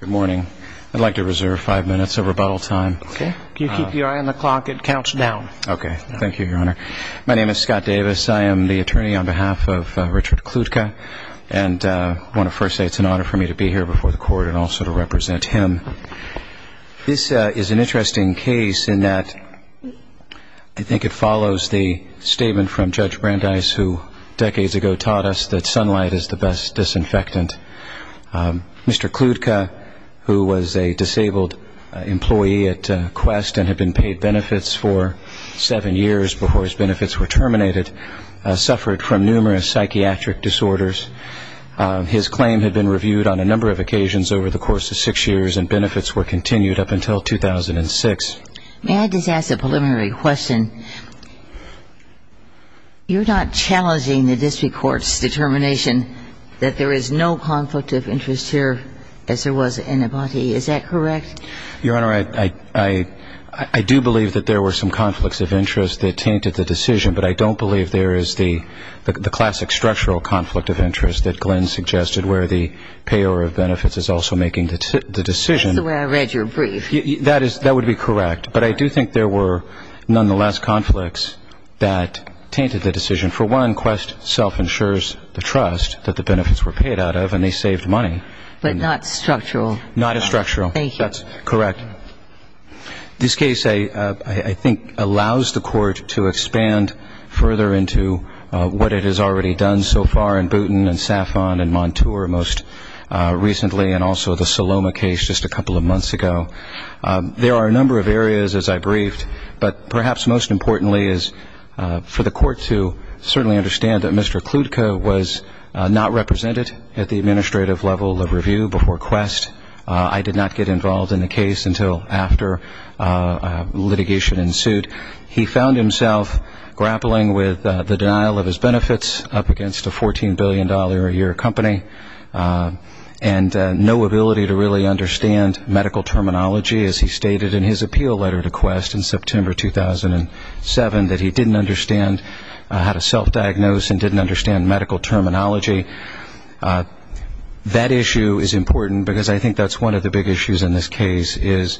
Good morning. I'd like to reserve five minutes of rebuttal time. Okay. If you keep your eye on the clock, it counts down. Okay. Thank you, Your Honor. My name is Scott Davis. I am the attorney on behalf of Richard Kludka. And I want to first say it's an honor for me to be here before the court and also to represent him. This is an interesting case in that I think it follows the statement from Judge Brandeis, who decades ago taught us that sunlight is the best disinfectant. Mr. Kludka, who was a disabled employee at Qwest and had been paid benefits for seven years before his benefits were terminated, suffered from numerous psychiatric disorders. His claim had been reviewed on a number of occasions over the course of six years, and benefits were continued up until 2006. May I just ask a preliminary question? You're not challenging the district court's determination that there is no conflict of interest here as there was in Abati. Is that correct? Your Honor, I do believe that there were some conflicts of interest that tainted the decision, but I don't believe there is the classic structural conflict of interest that Glenn suggested where the payor of benefits is also making the decision. That's the way I read your brief. That would be correct, but I do think there were nonetheless conflicts that tainted the decision. For one, Qwest self-insures the trust that the benefits were paid out of and they saved money. But not structural. Not as structural. Thank you. That's correct. This case, I think, allows the court to expand further into what it has already done so far and Montour most recently and also the Saloma case just a couple of months ago. There are a number of areas, as I briefed, but perhaps most importantly is for the court to certainly understand that Mr. Kludka was not represented at the administrative level of review before Qwest. I did not get involved in the case until after litigation ensued. He found himself grappling with the denial of his benefits up against a $14 billion a year company and no ability to really understand medical terminology, as he stated in his appeal letter to Qwest in September 2007, that he didn't understand how to self-diagnose and didn't understand medical terminology. That issue is important because I think that's one of the big issues in this case, is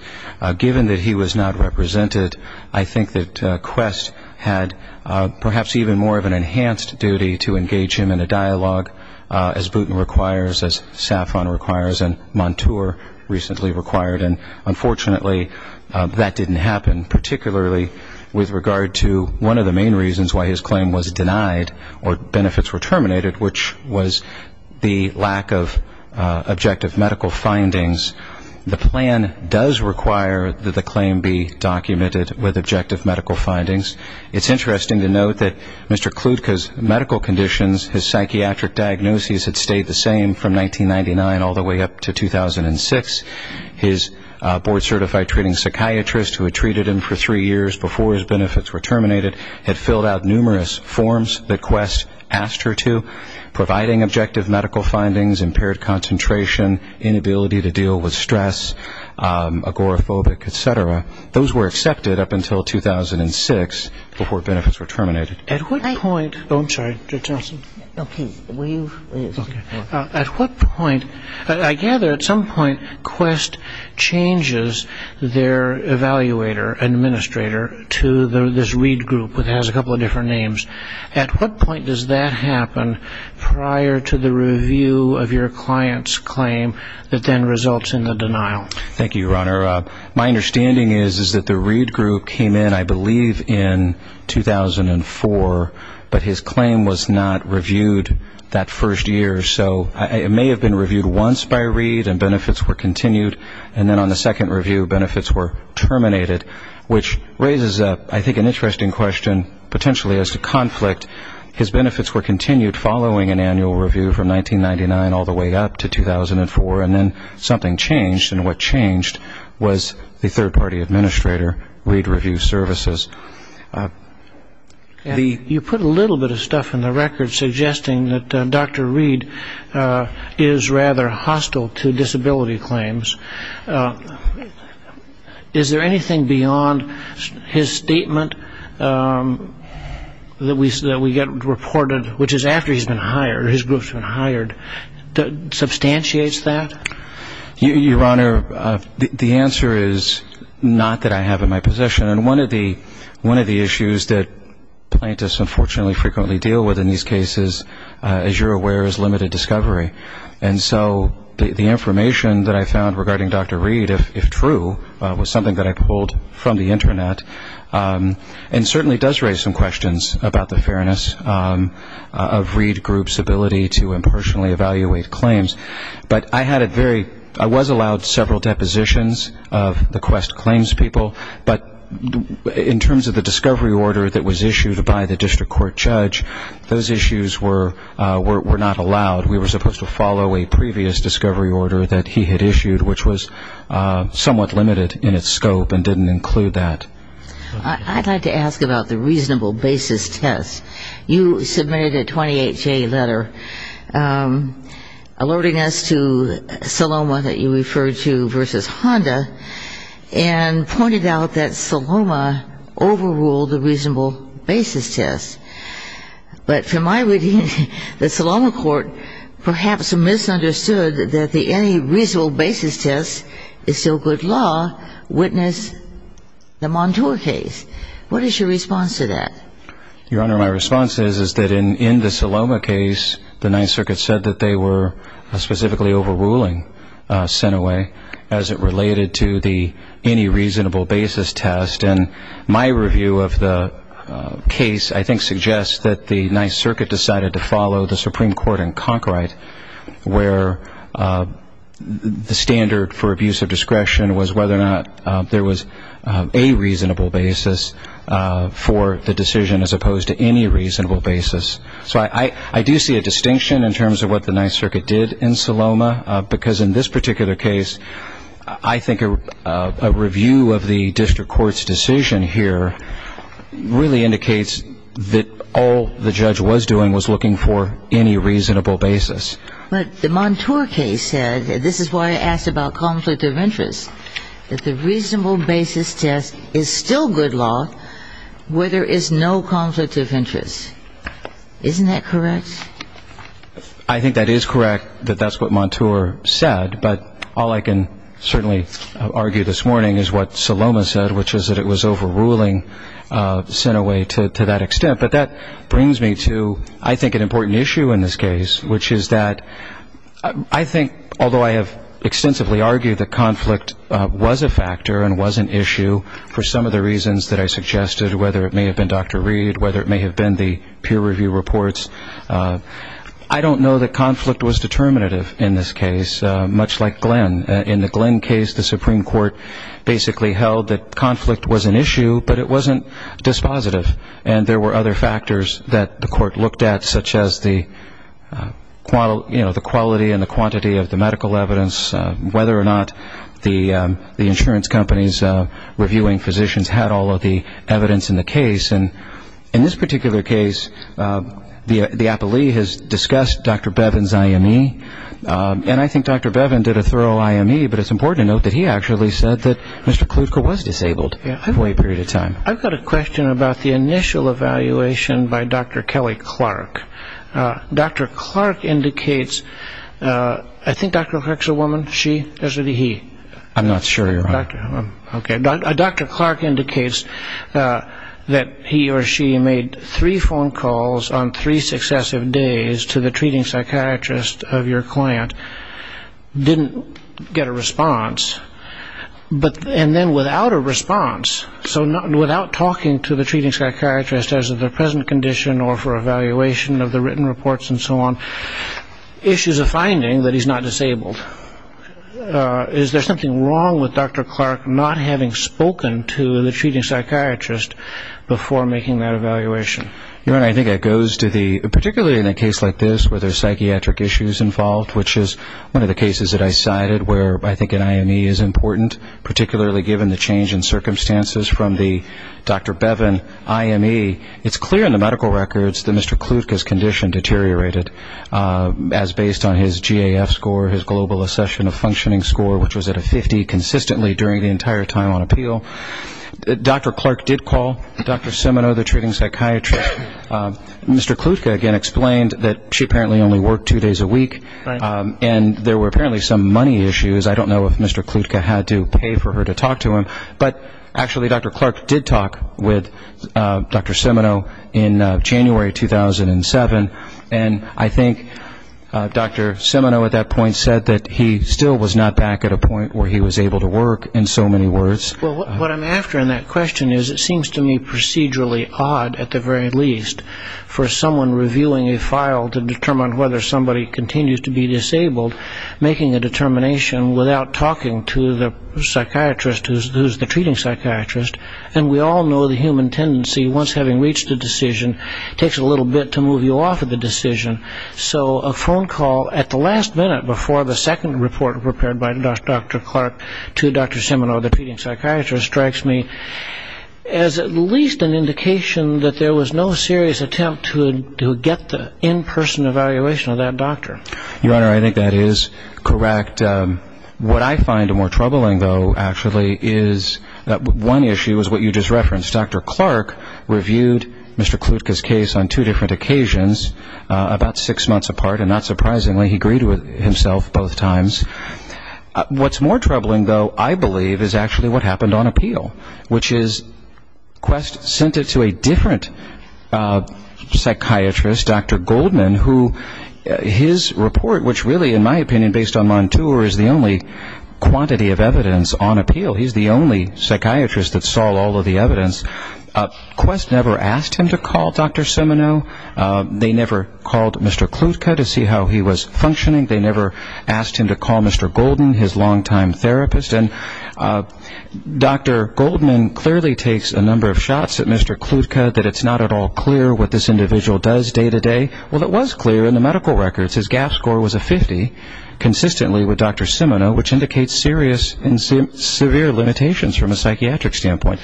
given that he was not represented, I think that Qwest had perhaps even more of an enhanced duty to engage him in a dialogue as Boutin requires, as Safran requires, and Montour recently required, and unfortunately that didn't happen, particularly with regard to one of the main reasons why his claim was denied or benefits were terminated, which was the lack of objective medical findings. The plan does require that the claim be documented with objective medical findings. It's interesting to note that Mr. Kludka's medical conditions, his psychiatric diagnosis, had stayed the same from 1999 all the way up to 2006. His board certified treating psychiatrist, who had treated him for three years before his benefits were terminated, had filled out numerous forms that Qwest asked her to, providing objective medical findings, impaired concentration, inability to deal with stress, agoraphobic, et cetera. Those were accepted up until 2006 before benefits were terminated. At what point, oh, I'm sorry. At what point, I gather at some point Qwest changes their evaluator and administrator to this read group that has a couple of different names. At what point does that happen prior to the review of your client's claim that then results in the denial? Thank you, Your Honor. My understanding is that the read group came in, I believe, in 2004, but his claim was not reviewed that first year. So it may have been reviewed once by read and benefits were continued, and then on the second review benefits were to conflict, his benefits were continued following an annual review from 1999 all the way up to 2004, and then something changed, and what changed was the third-party administrator, read review services. You put a little bit of stuff in the record suggesting that Dr. Reed is rather hostile to disability claims. Is there anything beyond his statement that we get reported, which is after he's been hired, his group's been hired, that substantiates that? Your Honor, the answer is not that I have in my possession, and one of the issues that plaintiffs unfortunately frequently deal with in these cases, as you're aware, is limited discovery. And so the information that I found regarding Dr. Reed, if true, was something that I pulled from the Internet, and certainly does raise some questions about the fairness of read group's ability to impersonally evaluate claims. But I was allowed several depositions of the quest claims people, but in terms of the discovery order that was issued by the district court judge, those issues were not allowed. We were supposed to follow a previous discovery order that he had issued, which was somewhat limited in its scope and didn't include that. I'd like to ask about the reasonable basis test. You submitted a 28-J letter alerting us to Saloma that you referred to versus Honda and pointed out that Saloma overruled the reasonable basis test. But from my reading, the Saloma court perhaps misunderstood that the any reasonable basis test is still good law, witness the Montour case. What is your response to that? Your Honor, my response is that in the Saloma case, the Ninth Circuit said that they were specifically overruling Senawe as it related to the any reasonable basis test. And my review of the case, I think, suggests that the Ninth Circuit decided to follow the Supreme Court in Concord where the standard for abuse of discretion was whether or not there was a reasonable basis for the decision as opposed to any reasonable basis. So I do see a distinction in terms of what the Ninth Circuit did in Saloma, because in this particular case, I think a review of the district court's decision here really indicates that all the judge was doing was looking for any reasonable basis. But the Montour case said, and this is why I asked about conflict of interest, that the reasonable basis test is still good law where there is no conflict of interest. Isn't that correct? I think that is correct, that that's what Montour said. But all I can certainly argue this morning is what Saloma said, which is that it was overruling Senawe to that extent. But that brings me to, I think, an important issue in this case, which is that I think, although I have extensively argued that conflict was a factor and was an issue for some of the reasons that I suggested, whether it may have been Dr. Reed, whether it may have been the peer review reports, I don't know that conflict was determinative in this case, much like Glenn. In the Glenn case, the Supreme Court basically held that conflict was an issue, but it wasn't dispositive. And there were other factors that the court looked at, such as the quality and the quantity of the medical evidence, whether or not the insurance companies reviewing physicians had all of the evidence in the case. And in this particular case, the appellee has discussed Dr. Bevin's IME, and I think Dr. Bevin did a thorough IME, but it's important to note that he actually said that Mr. Klutka was disabled for a period of time. I've got a question about the initial evaluation by Dr. Kelly Clark. Dr. Clark indicates, I think Dr. Clark is a woman, she, or should it be he? I'm not sure. Okay. Dr. Clark indicates that he or she made three phone calls on three successive days to the treating psychiatrist of your client, didn't get a response, and then without a response, so without talking to the treating psychiatrist as of the present condition or for evaluation of the written reports and so on, issues a finding that he's not disabled. Is there something wrong with Dr. Clark not having spoken to the treating psychiatrist before making that evaluation? I think it goes to the, particularly in a case like this where there's psychiatric issues involved, which is one of the cases that I cited where I think an IME is important, particularly given the change in circumstances from the Dr. Bevin IME. It's clear in the medical records that Mr. Klutka's condition deteriorated as based on his GAF score, his global assession of functioning score, which was at a 50 consistently during the entire time on appeal. Dr. Clark did call Dr. Simino, the treating psychiatrist. Mr. Klutka, again, explained that she apparently only worked two days a week, and there were apparently some money issues. I don't know if Mr. Klutka had to pay for her to talk to him, but actually Dr. Clark did talk with Dr. Simino in January 2007, and I think Dr. Simino at that point said that he still was not back at a point where he was able to work, in so many words. Well, what I'm after in that question is it seems to me procedurally odd, at the very least, for someone revealing a file to determine whether somebody continues to be disabled, making a determination without talking to the psychiatrist who's the treating psychiatrist, and we all know the human tendency, once having reached a decision, takes a little bit to move you off of the decision. So a phone call at the last minute before the second report prepared by Dr. Clark to Dr. Simino, the treating psychiatrist, strikes me as at least an indication that there was no serious attempt to get the in-person evaluation of that doctor. Your Honor, I think that is correct. What I find more troubling, though, actually, is that one issue is what you just referenced. Dr. Clark reviewed Mr. Klutka's case on two different occasions, about six months apart, and not surprisingly, he agreed with himself both times. What's more troubling, though, I believe, is actually what happened on appeal, which is Quest sent it to a different psychiatrist, Dr. Goldman, who his report, which really, in my opinion, based on Montour, is the only quantity of evidence on appeal. He's the only psychiatrist that saw all of the evidence. Quest never asked him to call Dr. Simino. They never called Mr. Klutka to see how he was functioning. They never asked him to call Mr. Goldman, his longtime therapist. And Dr. Goldman clearly takes a number of shots at Mr. Klutka, that it's not at all clear what this individual does day to day. Well, it was clear in the medical records. His GAF score was a 50, consistently with Dr. Simino, which indicates serious and severe limitations from a psychiatric standpoint.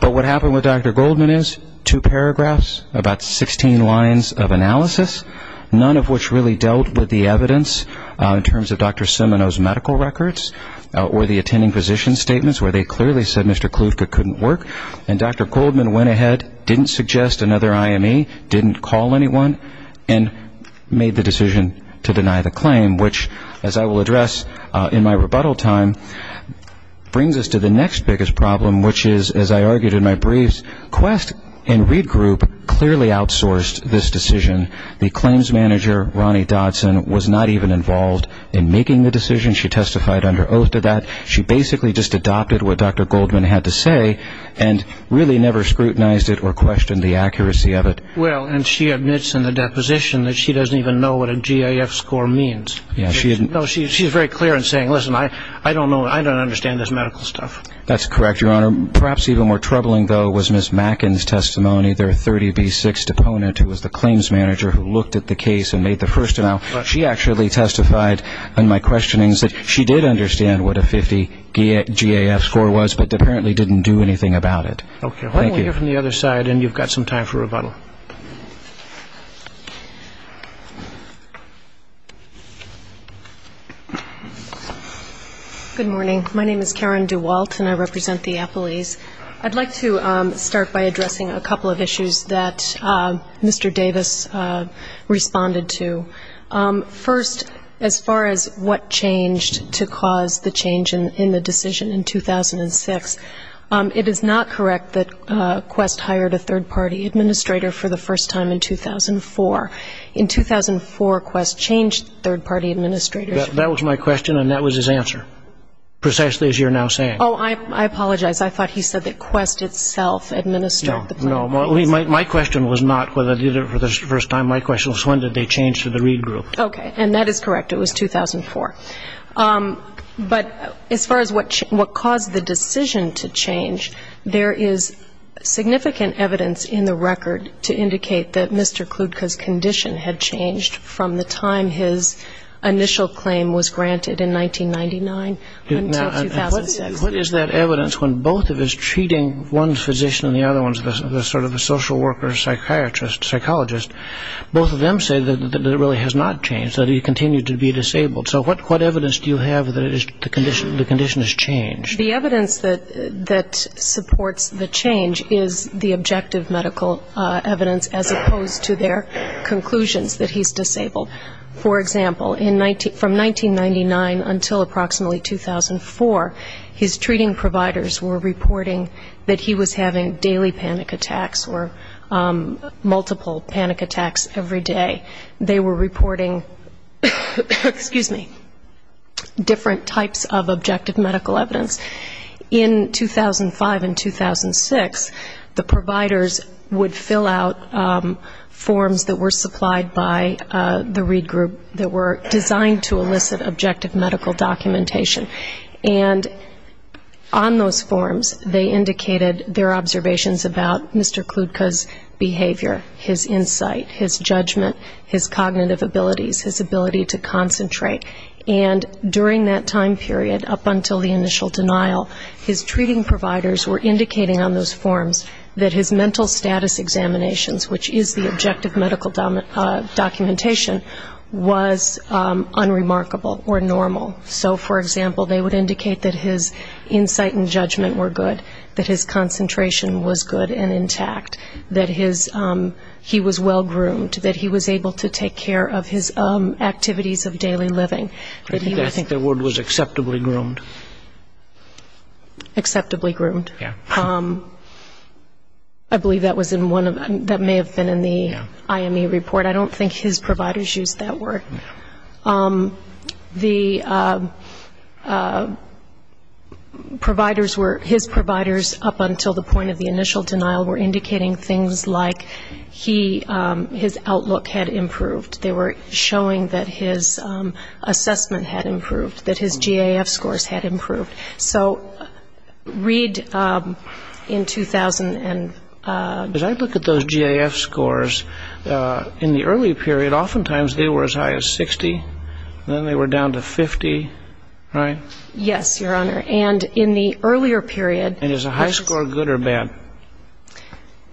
But what happened with Dr. Goldman is two paragraphs, about 16 lines of analysis, none of which really dealt with the evidence in terms of Dr. Simino's medical records or the attending physician's statements, where they clearly said Mr. Klutka couldn't work. And Dr. Goldman went ahead, didn't suggest another IME, didn't call anyone, and made the decision to deny the claim, which, as I will address in my rebuttal time, brings us to the next biggest problem, which is, as I argued in my briefs, Quest and Reed Group clearly outsourced this decision. The claims manager, Ronnie Dodson, was not even involved in making the decision. She testified under oath to that. She basically just adopted what Dr. Goldman had to say and really never scrutinized it or questioned the accuracy of it. Well, and she admits in the deposition that she doesn't even know what a GAF score means. She's very clear in saying, listen, I don't know, I don't understand this medical stuff. That's correct, Your Honor. Perhaps even more troubling, though, was Ms. Macken's testimony, their 30B6 deponent who was the claims manager who looked at the case and made the first amount. She actually testified in my questionings that she did understand what a 50 GAF score was but apparently didn't do anything about it. Okay. Why don't we hear from the other side, and you've got some time for rebuttal. Good morning. My name is Karen Dewalt, and I represent the appellees. I'd like to start by addressing a couple of issues that Mr. Davis responded to. First, as far as what changed to cause the change in the decision in 2006, it is not correct that Quest hired a third-party administrator for the first time in 2004. In 2004, Quest changed third-party administrators. That was my question, and that was his answer, precisely as you're now saying. Oh, I apologize. I thought he said that Quest itself administered the third-party administrators. No, no. My question was not whether they did it for the first time. My question was when did they change to the Reed Group. Okay. And that is correct. It was 2004. But as far as what caused the decision to change, there is significant evidence in the record to indicate that Mr. Kludka's condition had changed from the time his initial claim was granted in 1999 until 2006. What is that evidence when both of his treating, one physician and the other one is sort of a social worker, psychiatrist, psychologist, both of them say that it really has not changed, that he continued to be disabled. So what evidence do you have that the condition has changed? The evidence that supports the change is the objective medical evidence, as opposed to their conclusions that he's disabled. For example, from 1999 until approximately 2004, his treating providers were reporting that he was having daily panic attacks or multiple panic attacks every day. They were reporting, excuse me, different types of objective medical evidence. In 2005 and 2006, the providers would fill out forms that were supplied by the Reed Group that were designed to elicit objective medical documentation. And on those forms, they indicated their observations about Mr. Kludka's behavior, his insight, his judgment, his cognitive abilities, his ability to concentrate. And during that time period, up until the initial denial, his treating providers were indicating on those forms that his mental status examinations, which is the objective medical documentation, was unremarkable or normal. So, for example, they would indicate that his insight and judgment were good, that his concentration was good and intact, that he was well-groomed, that he was able to take care of his activities of daily living. I think the word was acceptably groomed. Acceptably groomed. I believe that may have been in the IME report. I don't think his providers used that word. The providers were, his providers, up until the point of the initial denial, were indicating things like he, his outlook had improved. They were showing that his assessment had improved, that his GAF scores had improved. As I look at those GAF scores, in the early period oftentimes they were as high as 60 and then they were down to 50, right? Yes, Your Honor, and in the earlier period. And is a high score good or bad?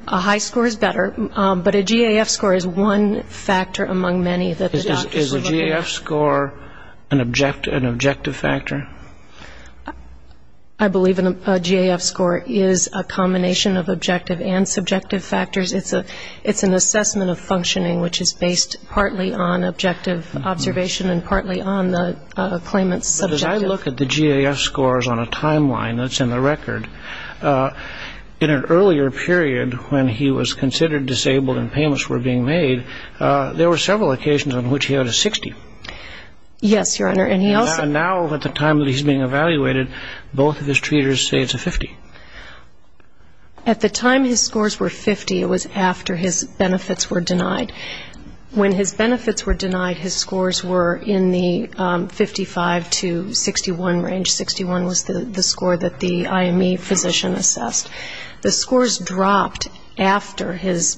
A high score is better, but a GAF score is one factor among many that the doctors were looking at. And is a GAF score an objective factor? I believe a GAF score is a combination of objective and subjective factors. It's an assessment of functioning which is based partly on objective observation and partly on the claimant's subjective. But as I look at the GAF scores on a timeline that's in the record, in an earlier period when he was considered disabled and payments were being made, there were several occasions on which he had a 60. Yes, Your Honor, and he also. And now at the time that he's being evaluated, both of his treaters say it's a 50. At the time his scores were 50, it was after his benefits were denied. When his benefits were denied, his scores were in the 55 to 61 range. 61 was the score that the IME physician assessed. The scores dropped after his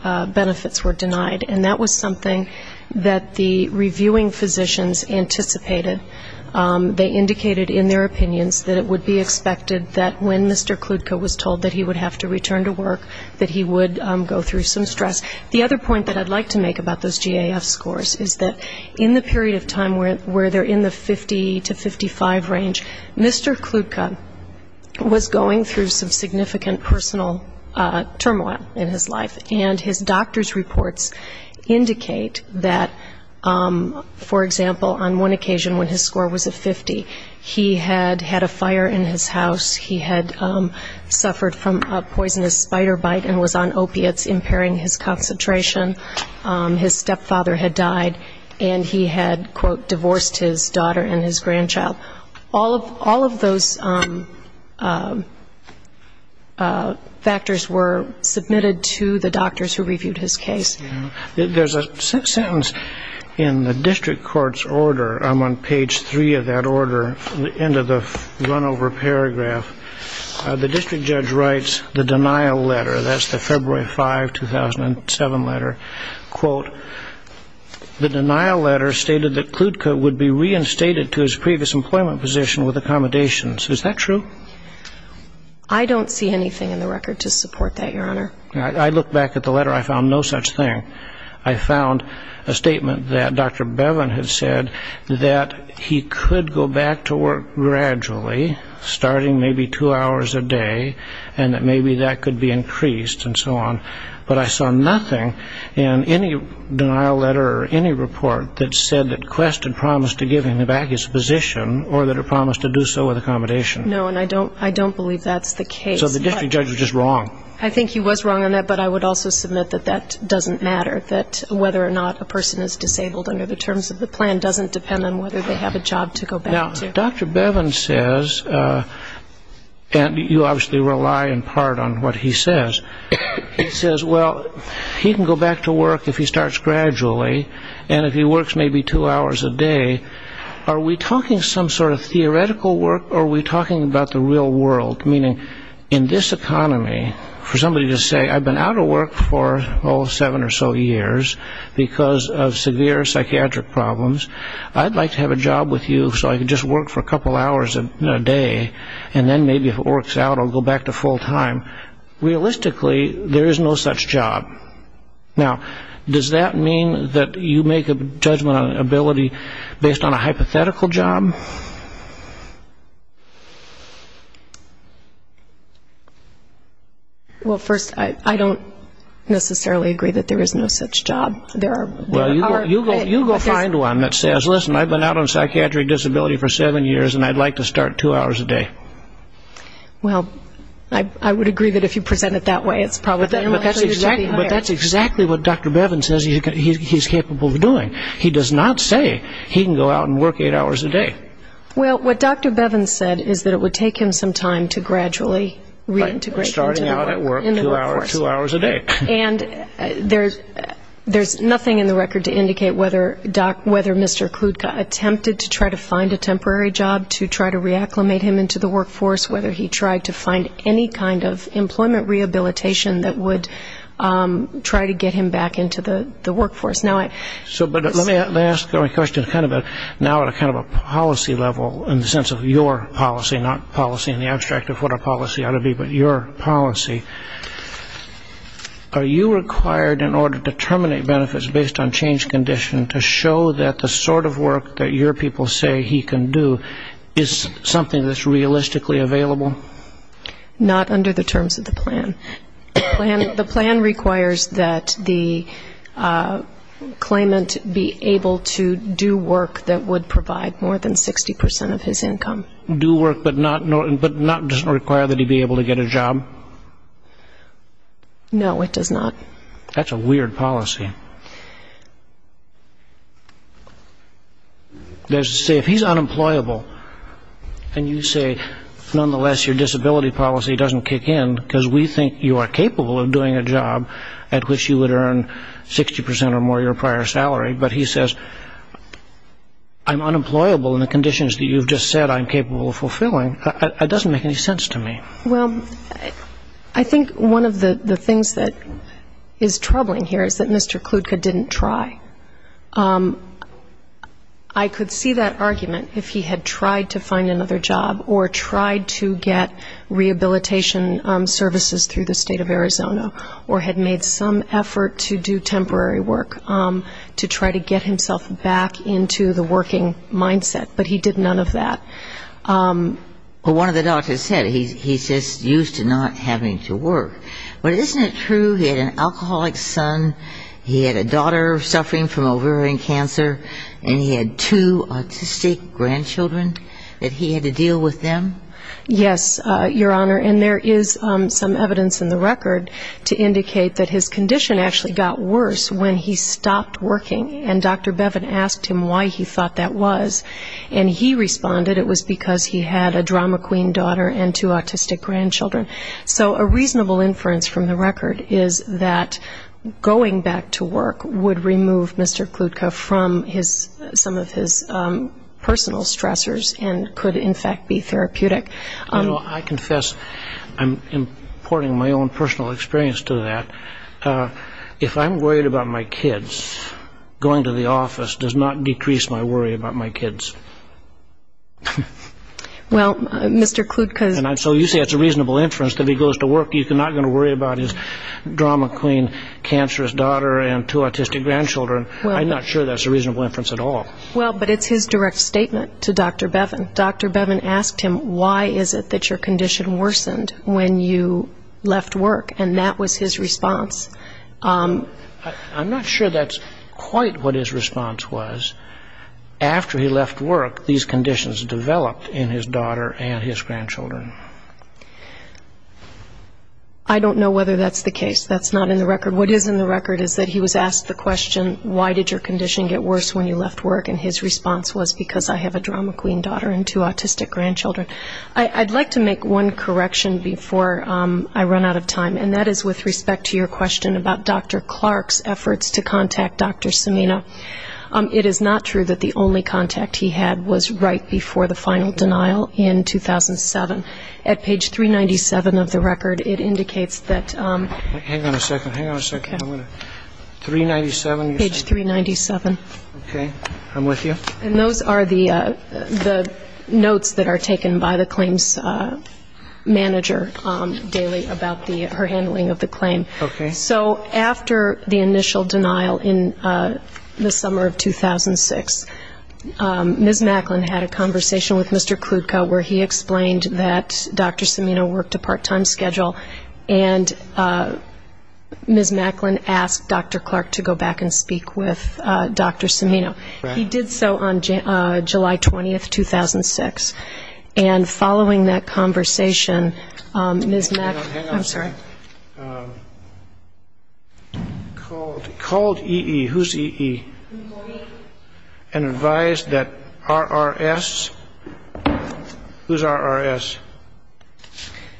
benefits were denied, and that was something that the reviewing physicians anticipated. They indicated in their opinions that it would be expected that when Mr. Kludka was told that he would have to return to The other point that I'd like to make about those GAF scores is that in the period of time where they're in the 50 to 55 range, Mr. Kludka was going through some significant personal turmoil in his life, and his doctor's reports indicate that, for example, on one occasion when his score was a 50, he had had a fire in his house, he had suffered from a poisonous spider bite and was on opiates, impairing his concentration, his stepfather had died, and he had, quote, divorced his daughter and his grandchild. All of those factors were submitted to the doctors who reviewed his case. There's a sentence in the district court's order. I'm on page three of that order, the end of the runover paragraph. The district judge writes the denial letter, that's the February 5, 2007 letter, quote, the denial letter stated that Kludka would be reinstated to his previous employment position with accommodations. Is that true? I don't see anything in the record to support that, Your Honor. I looked back at the letter, I found no such thing. I found a statement that Dr. Bevin had said that he could go back to work gradually, starting maybe two hours a day, and that maybe that could be increased and so on. But I saw nothing in any denial letter or any report that said that Quest had promised to give him back his position or that it promised to do so with accommodations. No, and I don't believe that's the case. I think he was wrong on that, but I would also submit that that doesn't matter, that whether or not a person is disabled under the terms of the plan doesn't depend on whether they have a job to go back to. Now, Dr. Bevin says, and you obviously rely in part on what he says, he says, well, he can go back to work if he starts gradually, and if he works maybe two hours a day. Are we talking some sort of theoretical work, or are we talking about the real world? Meaning, in this economy, for somebody to say, I've been out of work for, oh, seven or so years because of severe psychiatric problems, I'd like to have a job with you so I could just work for a couple hours a day, and then maybe if it works out, I'll go back to full time. Realistically, there is no such job. Is this based on a hypothetical job? Well, first, I don't necessarily agree that there is no such job. Well, you go find one that says, listen, I've been out on psychiatric disability for seven years, and I'd like to start two hours a day. Well, I would agree that if you present it that way, it's probably better. But that's exactly what Dr. Bevan says he's capable of doing. He does not say he can go out and work eight hours a day. Well, what Dr. Bevan said is that it would take him some time to gradually reintegrate into the workforce. Starting out at work, two hours a day. And there's nothing in the record to indicate whether Mr. Kludka attempted to try to find a temporary job, to try to reacclimate him into the workforce, whether he tried to find any kind of employment rehabilitation that would try to get him back into the workforce. But let me ask my question now at kind of a policy level, in the sense of your policy, not policy in the abstract of what a policy ought to be, but your policy. Are you required in order to terminate benefits based on change condition to show that the sort of work that your people say he can do is something that's realistically available? Not under the terms of the plan. The plan requires that the claimant be able to do work that would provide more than 60 percent of his income. Do work, but not just require that he be able to get a job? No, it does not. That's a weird policy. If he's unemployable, and you say, nonetheless, your disability policy doesn't kick in, because we think you are capable of doing a job at which you would earn 60 percent or more of your prior salary, but he says, I'm unemployable in the conditions that you've just said I'm capable of fulfilling, it doesn't make any sense to me. Well, I think one of the things that is troubling here is that Mr. Kludka didn't try. I could see that argument if he had tried to find another job, or tried to get rehabilitation services through the State of Arizona, or had made some effort to do temporary work to try to get himself back into the working mindset. But he did none of that. Well, one of the doctors said he's just used to not having to work. But isn't it true he had an alcoholic son, he had a daughter suffering from ovarian cancer, and he had two autistic grandchildren that he had to deal with them? Yes, Your Honor, and there is some evidence in the record to indicate that his condition actually got worse when he stopped working, and Dr. Bevin asked him why he thought that was. And he responded it was because he had a drama queen daughter and two autistic grandchildren. So a reasonable inference from the record is that going back to work would remove Mr. Kludka from some of his personal stressors and could, in fact, be therapeutic. You know, I confess I'm importing my own personal experience to that. If I'm worried about my kids, going to the office does not decrease my worry about my kids. Well, Mr. Kludka... So you say it's a reasonable inference that if he goes to work he's not going to worry about his drama queen cancerous daughter and two autistic grandchildren. I'm not sure that's a reasonable inference at all. Well, but it's his direct statement to Dr. Bevin. Dr. Bevin asked him why is it that your condition worsened when you left work, and that was his response. I'm not sure that's quite what his response was. After he left work, these conditions developed in his daughter and his grandchildren. I don't know whether that's the case. That's not in the record. What is in the record is that he was asked the question why did your condition get worse when you left work, and his response was because I have a drama queen daughter and two autistic grandchildren. I'd like to make one correction before I run out of time, and that is with respect to your question about Dr. Clark's efforts to contact Dr. Samino. It is not true that the only contact he had was right before the final denial in 2007. At page 397 of the record, it indicates that ‑‑ Hang on a second. Hang on a second. 397. Page 397. Okay. I'm with you. And those are the notes that are taken by the claims manager daily about her handling of the claim. So after the initial denial in the summer of 2006, Ms. Macklin had a conversation with Mr. Kludka where he explained that Dr. Samino worked a part‑time schedule, and Ms. Macklin asked Dr. Clark to go back and speak with Dr. Samino. He did so on July 20th, 2006. And following that conversation, Ms. Macklin ‑‑ Hang on a second. Called EE. Who's EE? And advised that RRS. Who's RRS?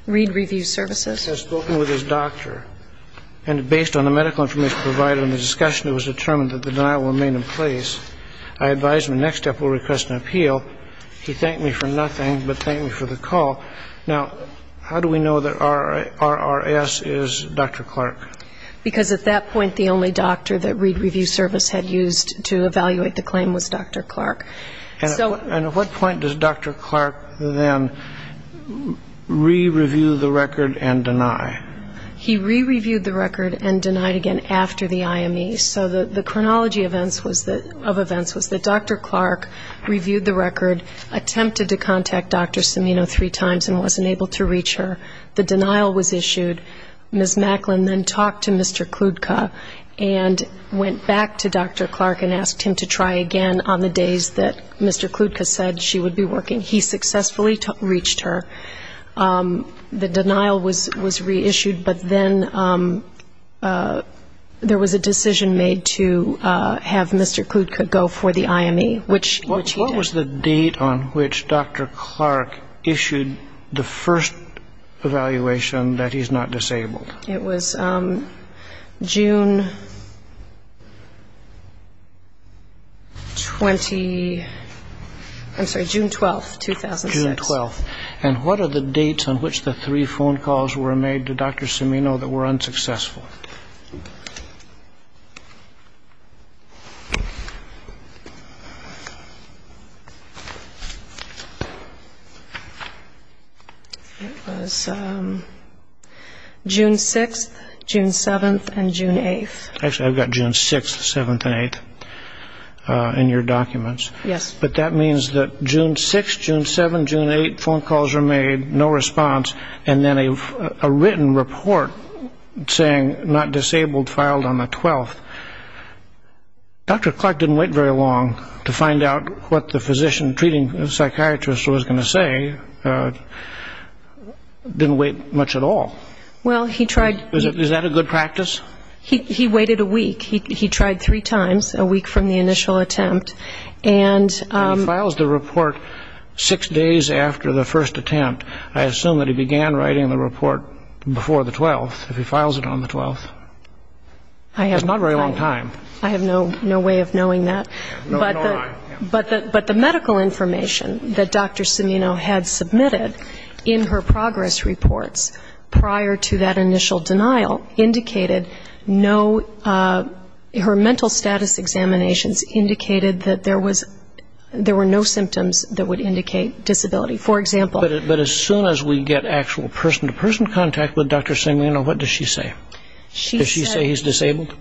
Reed Review Services. RRS has spoken with his doctor, and based on the medical information provided in the discussion, it was determined that the denial would remain in place. I advised him the next step would be to request an appeal. He thanked me for nothing but thanked me for the call. Now, how do we know that RRS is Dr. Clark? Because at that point the only doctor that Reed Review Service had used to evaluate the claim was Dr. Clark. And at what point does Dr. Clark then re‑review the record and deny? He re‑reviewed the record and denied again after the IME. So the chronology of events was that Dr. Clark reviewed the record, attempted to contact Dr. Samino three times and wasn't able to reach her. The denial was issued. Ms. Macklin then talked to Mr. Kludka and went back to Dr. Clark and asked him to try again on the days that Mr. Kludka said she would be working. He successfully reached her. The denial was reissued, but then there was a decision made to have Mr. Kludka go for the IME, which he did. What was the date on which Dr. Clark issued the first evaluation that he's not disabled? It was June 20, I'm sorry, June 12, 2006. June 12. And what are the dates on which the three phone calls were made to Dr. Samino that were unsuccessful? It was June 6, June 7, and June 8. Actually, I've got June 6, 7, and 8 in your documents. But that means that June 6, June 7, June 8 phone calls were made, no response, and then a written report saying not disabled filed on the 12th. Dr. Clark didn't wait very long to find out what the physician treating the psychiatrist was going to say. Didn't wait much at all. Is that a good practice? He waited a week. He tried three times a week from the initial attempt. And he files the report six days after the first attempt. I assume that he began writing the report before the 12th, if he files it on the 12th. It's not a very long time. I have no way of knowing that. But the medical information that Dr. Samino had submitted in her progress reports prior to that initial denial indicated no her mental status examinations indicated that there were no symptoms that would indicate disability. But as soon as we get actual person-to-person contact with Dr. Samino, what does she say? Does she say he's disabled?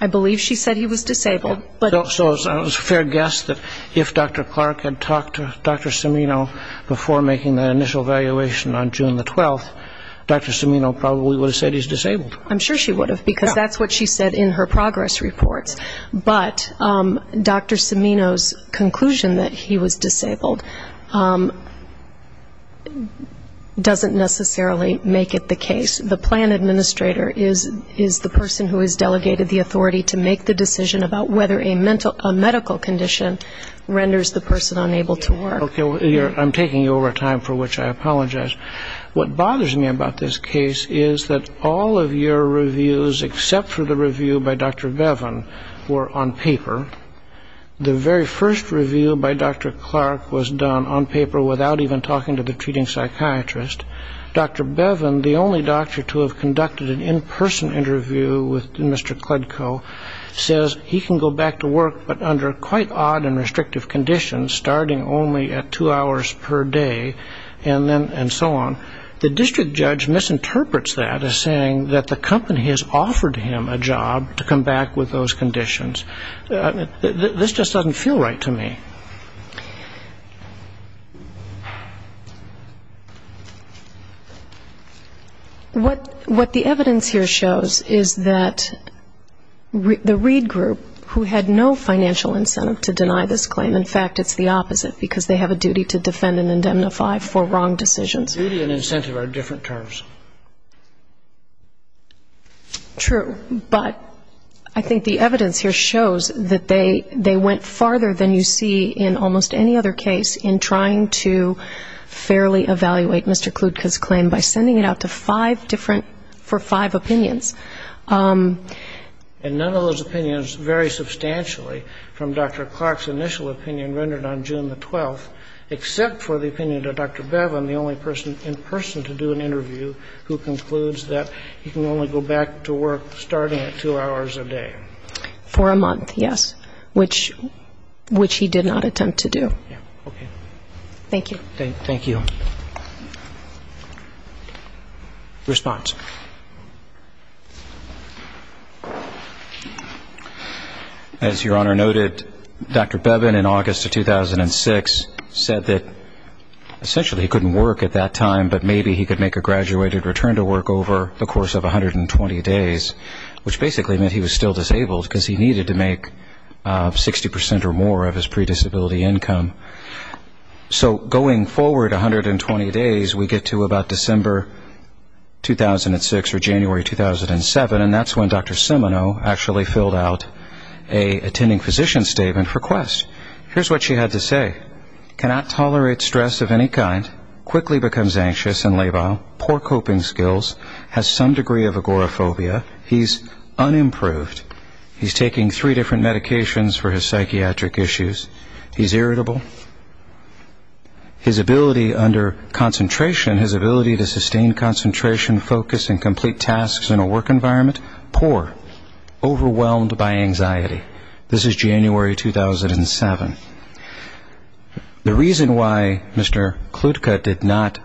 I believe she said he was disabled. So it's a fair guess that if Dr. Clark had talked to Dr. Samino before making that initial evaluation on June the 12th, Dr. Samino probably would have said he's disabled. I'm sure she would have, because that's what she said in her progress reports. But Dr. Samino's conclusion that he was disabled doesn't necessarily make it the case. The plan administrator is the person who has delegated the authority to make the decision about whether a medical condition renders the person unable to work. Okay, I'm taking you over time, for which I apologize. What bothers me about this case is that all of your reviews, except for the review by Dr. Bevan, were on paper. The very first review by Dr. Clark was done on paper without even talking to the treating psychiatrist. Dr. Bevan, the only doctor to have conducted an in-person interview with Mr. Kledko, says he can go back to work, but under quite odd and restrictive conditions, starting only at two hours per day, and so on. The district judge misinterprets that as saying that the company has offered him a job to come back with those conditions. This just doesn't feel right to me. What the evidence here shows is that the Reed Group, who had no financial incentive to deny this claim, in fact, it's the opposite, because they have a duty to defend and indemnify for wrong decisions. Duty and incentive are different terms. True, but I think the evidence here shows that they went farther than you see in almost any other case in trying to fairly evaluate Mr. Kledko's claim by sending it out to five different, for five opinions. And none of those opinions vary substantially from Dr. Clark's initial opinion rendered on June the 12th, except for the opinion of Dr. Bevan, the only person in person to do an interview, who concludes that he can only go back to work starting at two hours a day. For a month, yes, which he did not attempt to do. Thank you. Response. As Your Honor noted, Dr. Bevan in August of 2006 said that essentially he couldn't work at that time, but maybe he could make a graduated return to work over the course of 120 days, which basically meant he was still disabled, because he needed to make 60 percent or more of his predisability income. So going forward 120 days, we get to about December 2006 or January 2007, and that's when Dr. Simonow actually filled out an attending physician's statement for Quest. Here's what she had to say. He's unimproved. His ability under concentration, his ability to sustain concentration, focus and complete tasks in a work environment, poor, overwhelmed by anxiety. This is January 2007. The reason why Mr. Klutka did not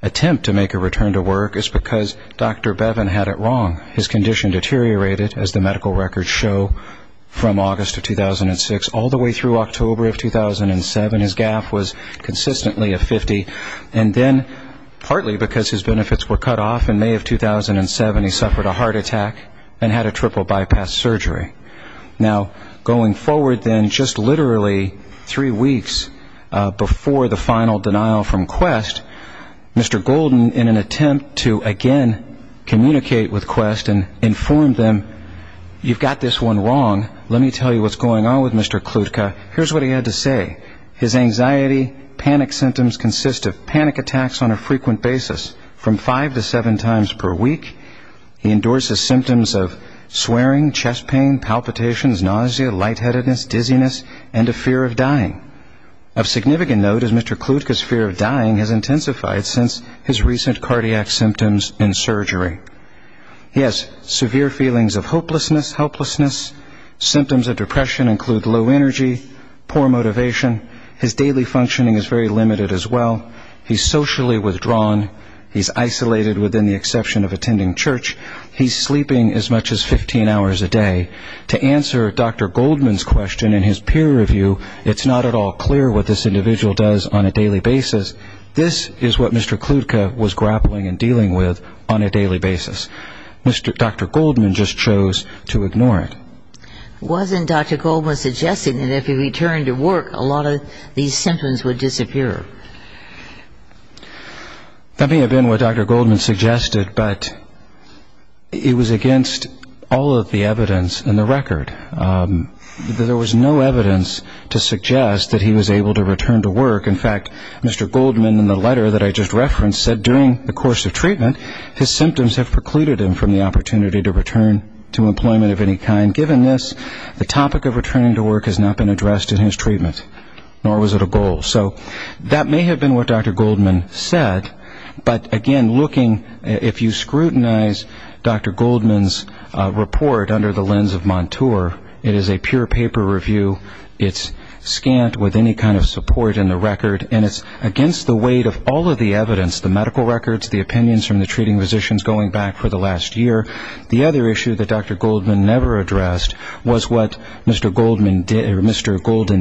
attempt to make a return to work is because Dr. Bevan had it wrong. His condition deteriorated, as the medical records show, from August of 2006 all the way through October of 2007. His GAF was consistently a 50, and then partly because his benefits were cut off in May of 2007, he suffered a heart attack and had a triple bypass surgery. Now, going forward then just literally three weeks before the final denial from Quest, Mr. Golden, in an attempt to again communicate with Quest and inform them, you've got this one wrong, let me tell you what's going on with Mr. Klutka, here's what he had to say. His anxiety, panic symptoms consist of panic attacks on a frequent basis, from five to seven times per week. He endorses symptoms of swearing, chest pain, palpitations, nausea, lightheadedness, dizziness, and a fear of dying. Of significant note is Mr. Klutka's fear of dying has intensified since his recent cardiac symptoms and surgery. He has severe feelings of hopelessness, helplessness, symptoms of depression include low energy, poor motivation, his daily functioning is very limited as well, he's socially withdrawn, he's isolated within the exception of attending church, he's sleeping as much as 15 hours a day. To answer Dr. Goldman's question in his peer review, it's not at all clear what this individual does on a daily basis. This is what Mr. Klutka was grappling and dealing with on a daily basis. Dr. Goldman just chose to ignore it. Wasn't Dr. Goldman suggesting that if he returned to work, a lot of these symptoms would disappear? That may have been what Dr. Goldman suggested, but it was against all of the evidence in the record. There was no evidence to suggest that he was able to return to work. In fact, Mr. Goldman in the letter that I just referenced said during the course of treatment, his symptoms have precluded him from the opportunity to return to employment of any kind. Given this, the topic of returning to work has not been addressed in his treatment, nor was it a goal. So that may have been what Dr. Goldman said, but again, looking, if you scrutinize Dr. Goldman's report under the lens of Montour, it is a pure paper review, it's scant with any kind of support in the record, and it's against the weight of all of the evidence, the medical records, the opinions from the treating physicians going back for the last year. The other issue that Dr. Goldman never addressed was what Mr. Golden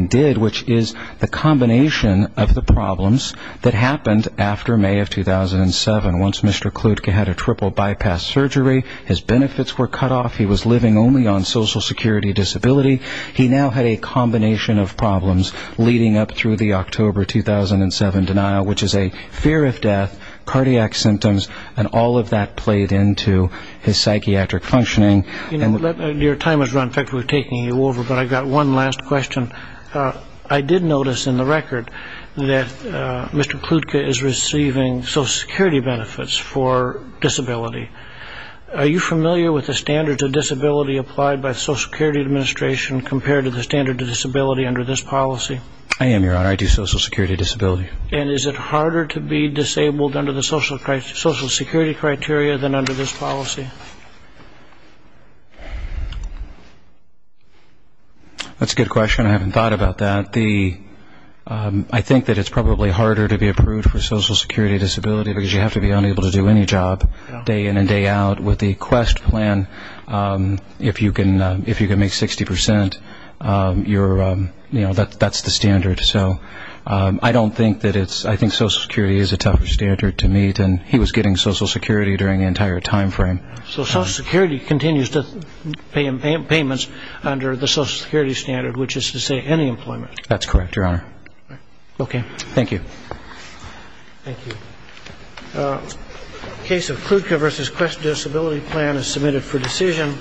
did, which is the combination of the problems that happened after May of 2007. Once Mr. Klutka had a triple bypass surgery, his benefits were cut off, he was living only on social security disability, he now had a combination of problems leading up through the October 2007 denial, which is a fear of death, cardiac symptoms, and all of that played into his psychiatric functioning. Your time has run, in fact, we're taking you over, but I've got one last question. I did notice in the record that Mr. Klutka is receiving social security benefits for disability. Are you familiar with the standards of disability applied by the Social Security Administration compared to the standard of disability under this policy? I am, Your Honor. I do social security disability. And is it harder to be disabled under the social security criteria than under this policy? That's a good question. I haven't thought about that. I think that it's probably harder to be approved for social security disability because you have to be unable to do any job day in and day out. With the Quest plan, if you can make 60%, that's the standard. I don't think that it's, I think social security is a tougher standard to meet, and he was getting social security during the entire time frame. So social security continues to pay him payments under the social security standard, which is to say any employment. That's correct, Your Honor. Okay. Thank you. Thank you. Case of Klutka v. Quest Disability Plan is submitted for decision.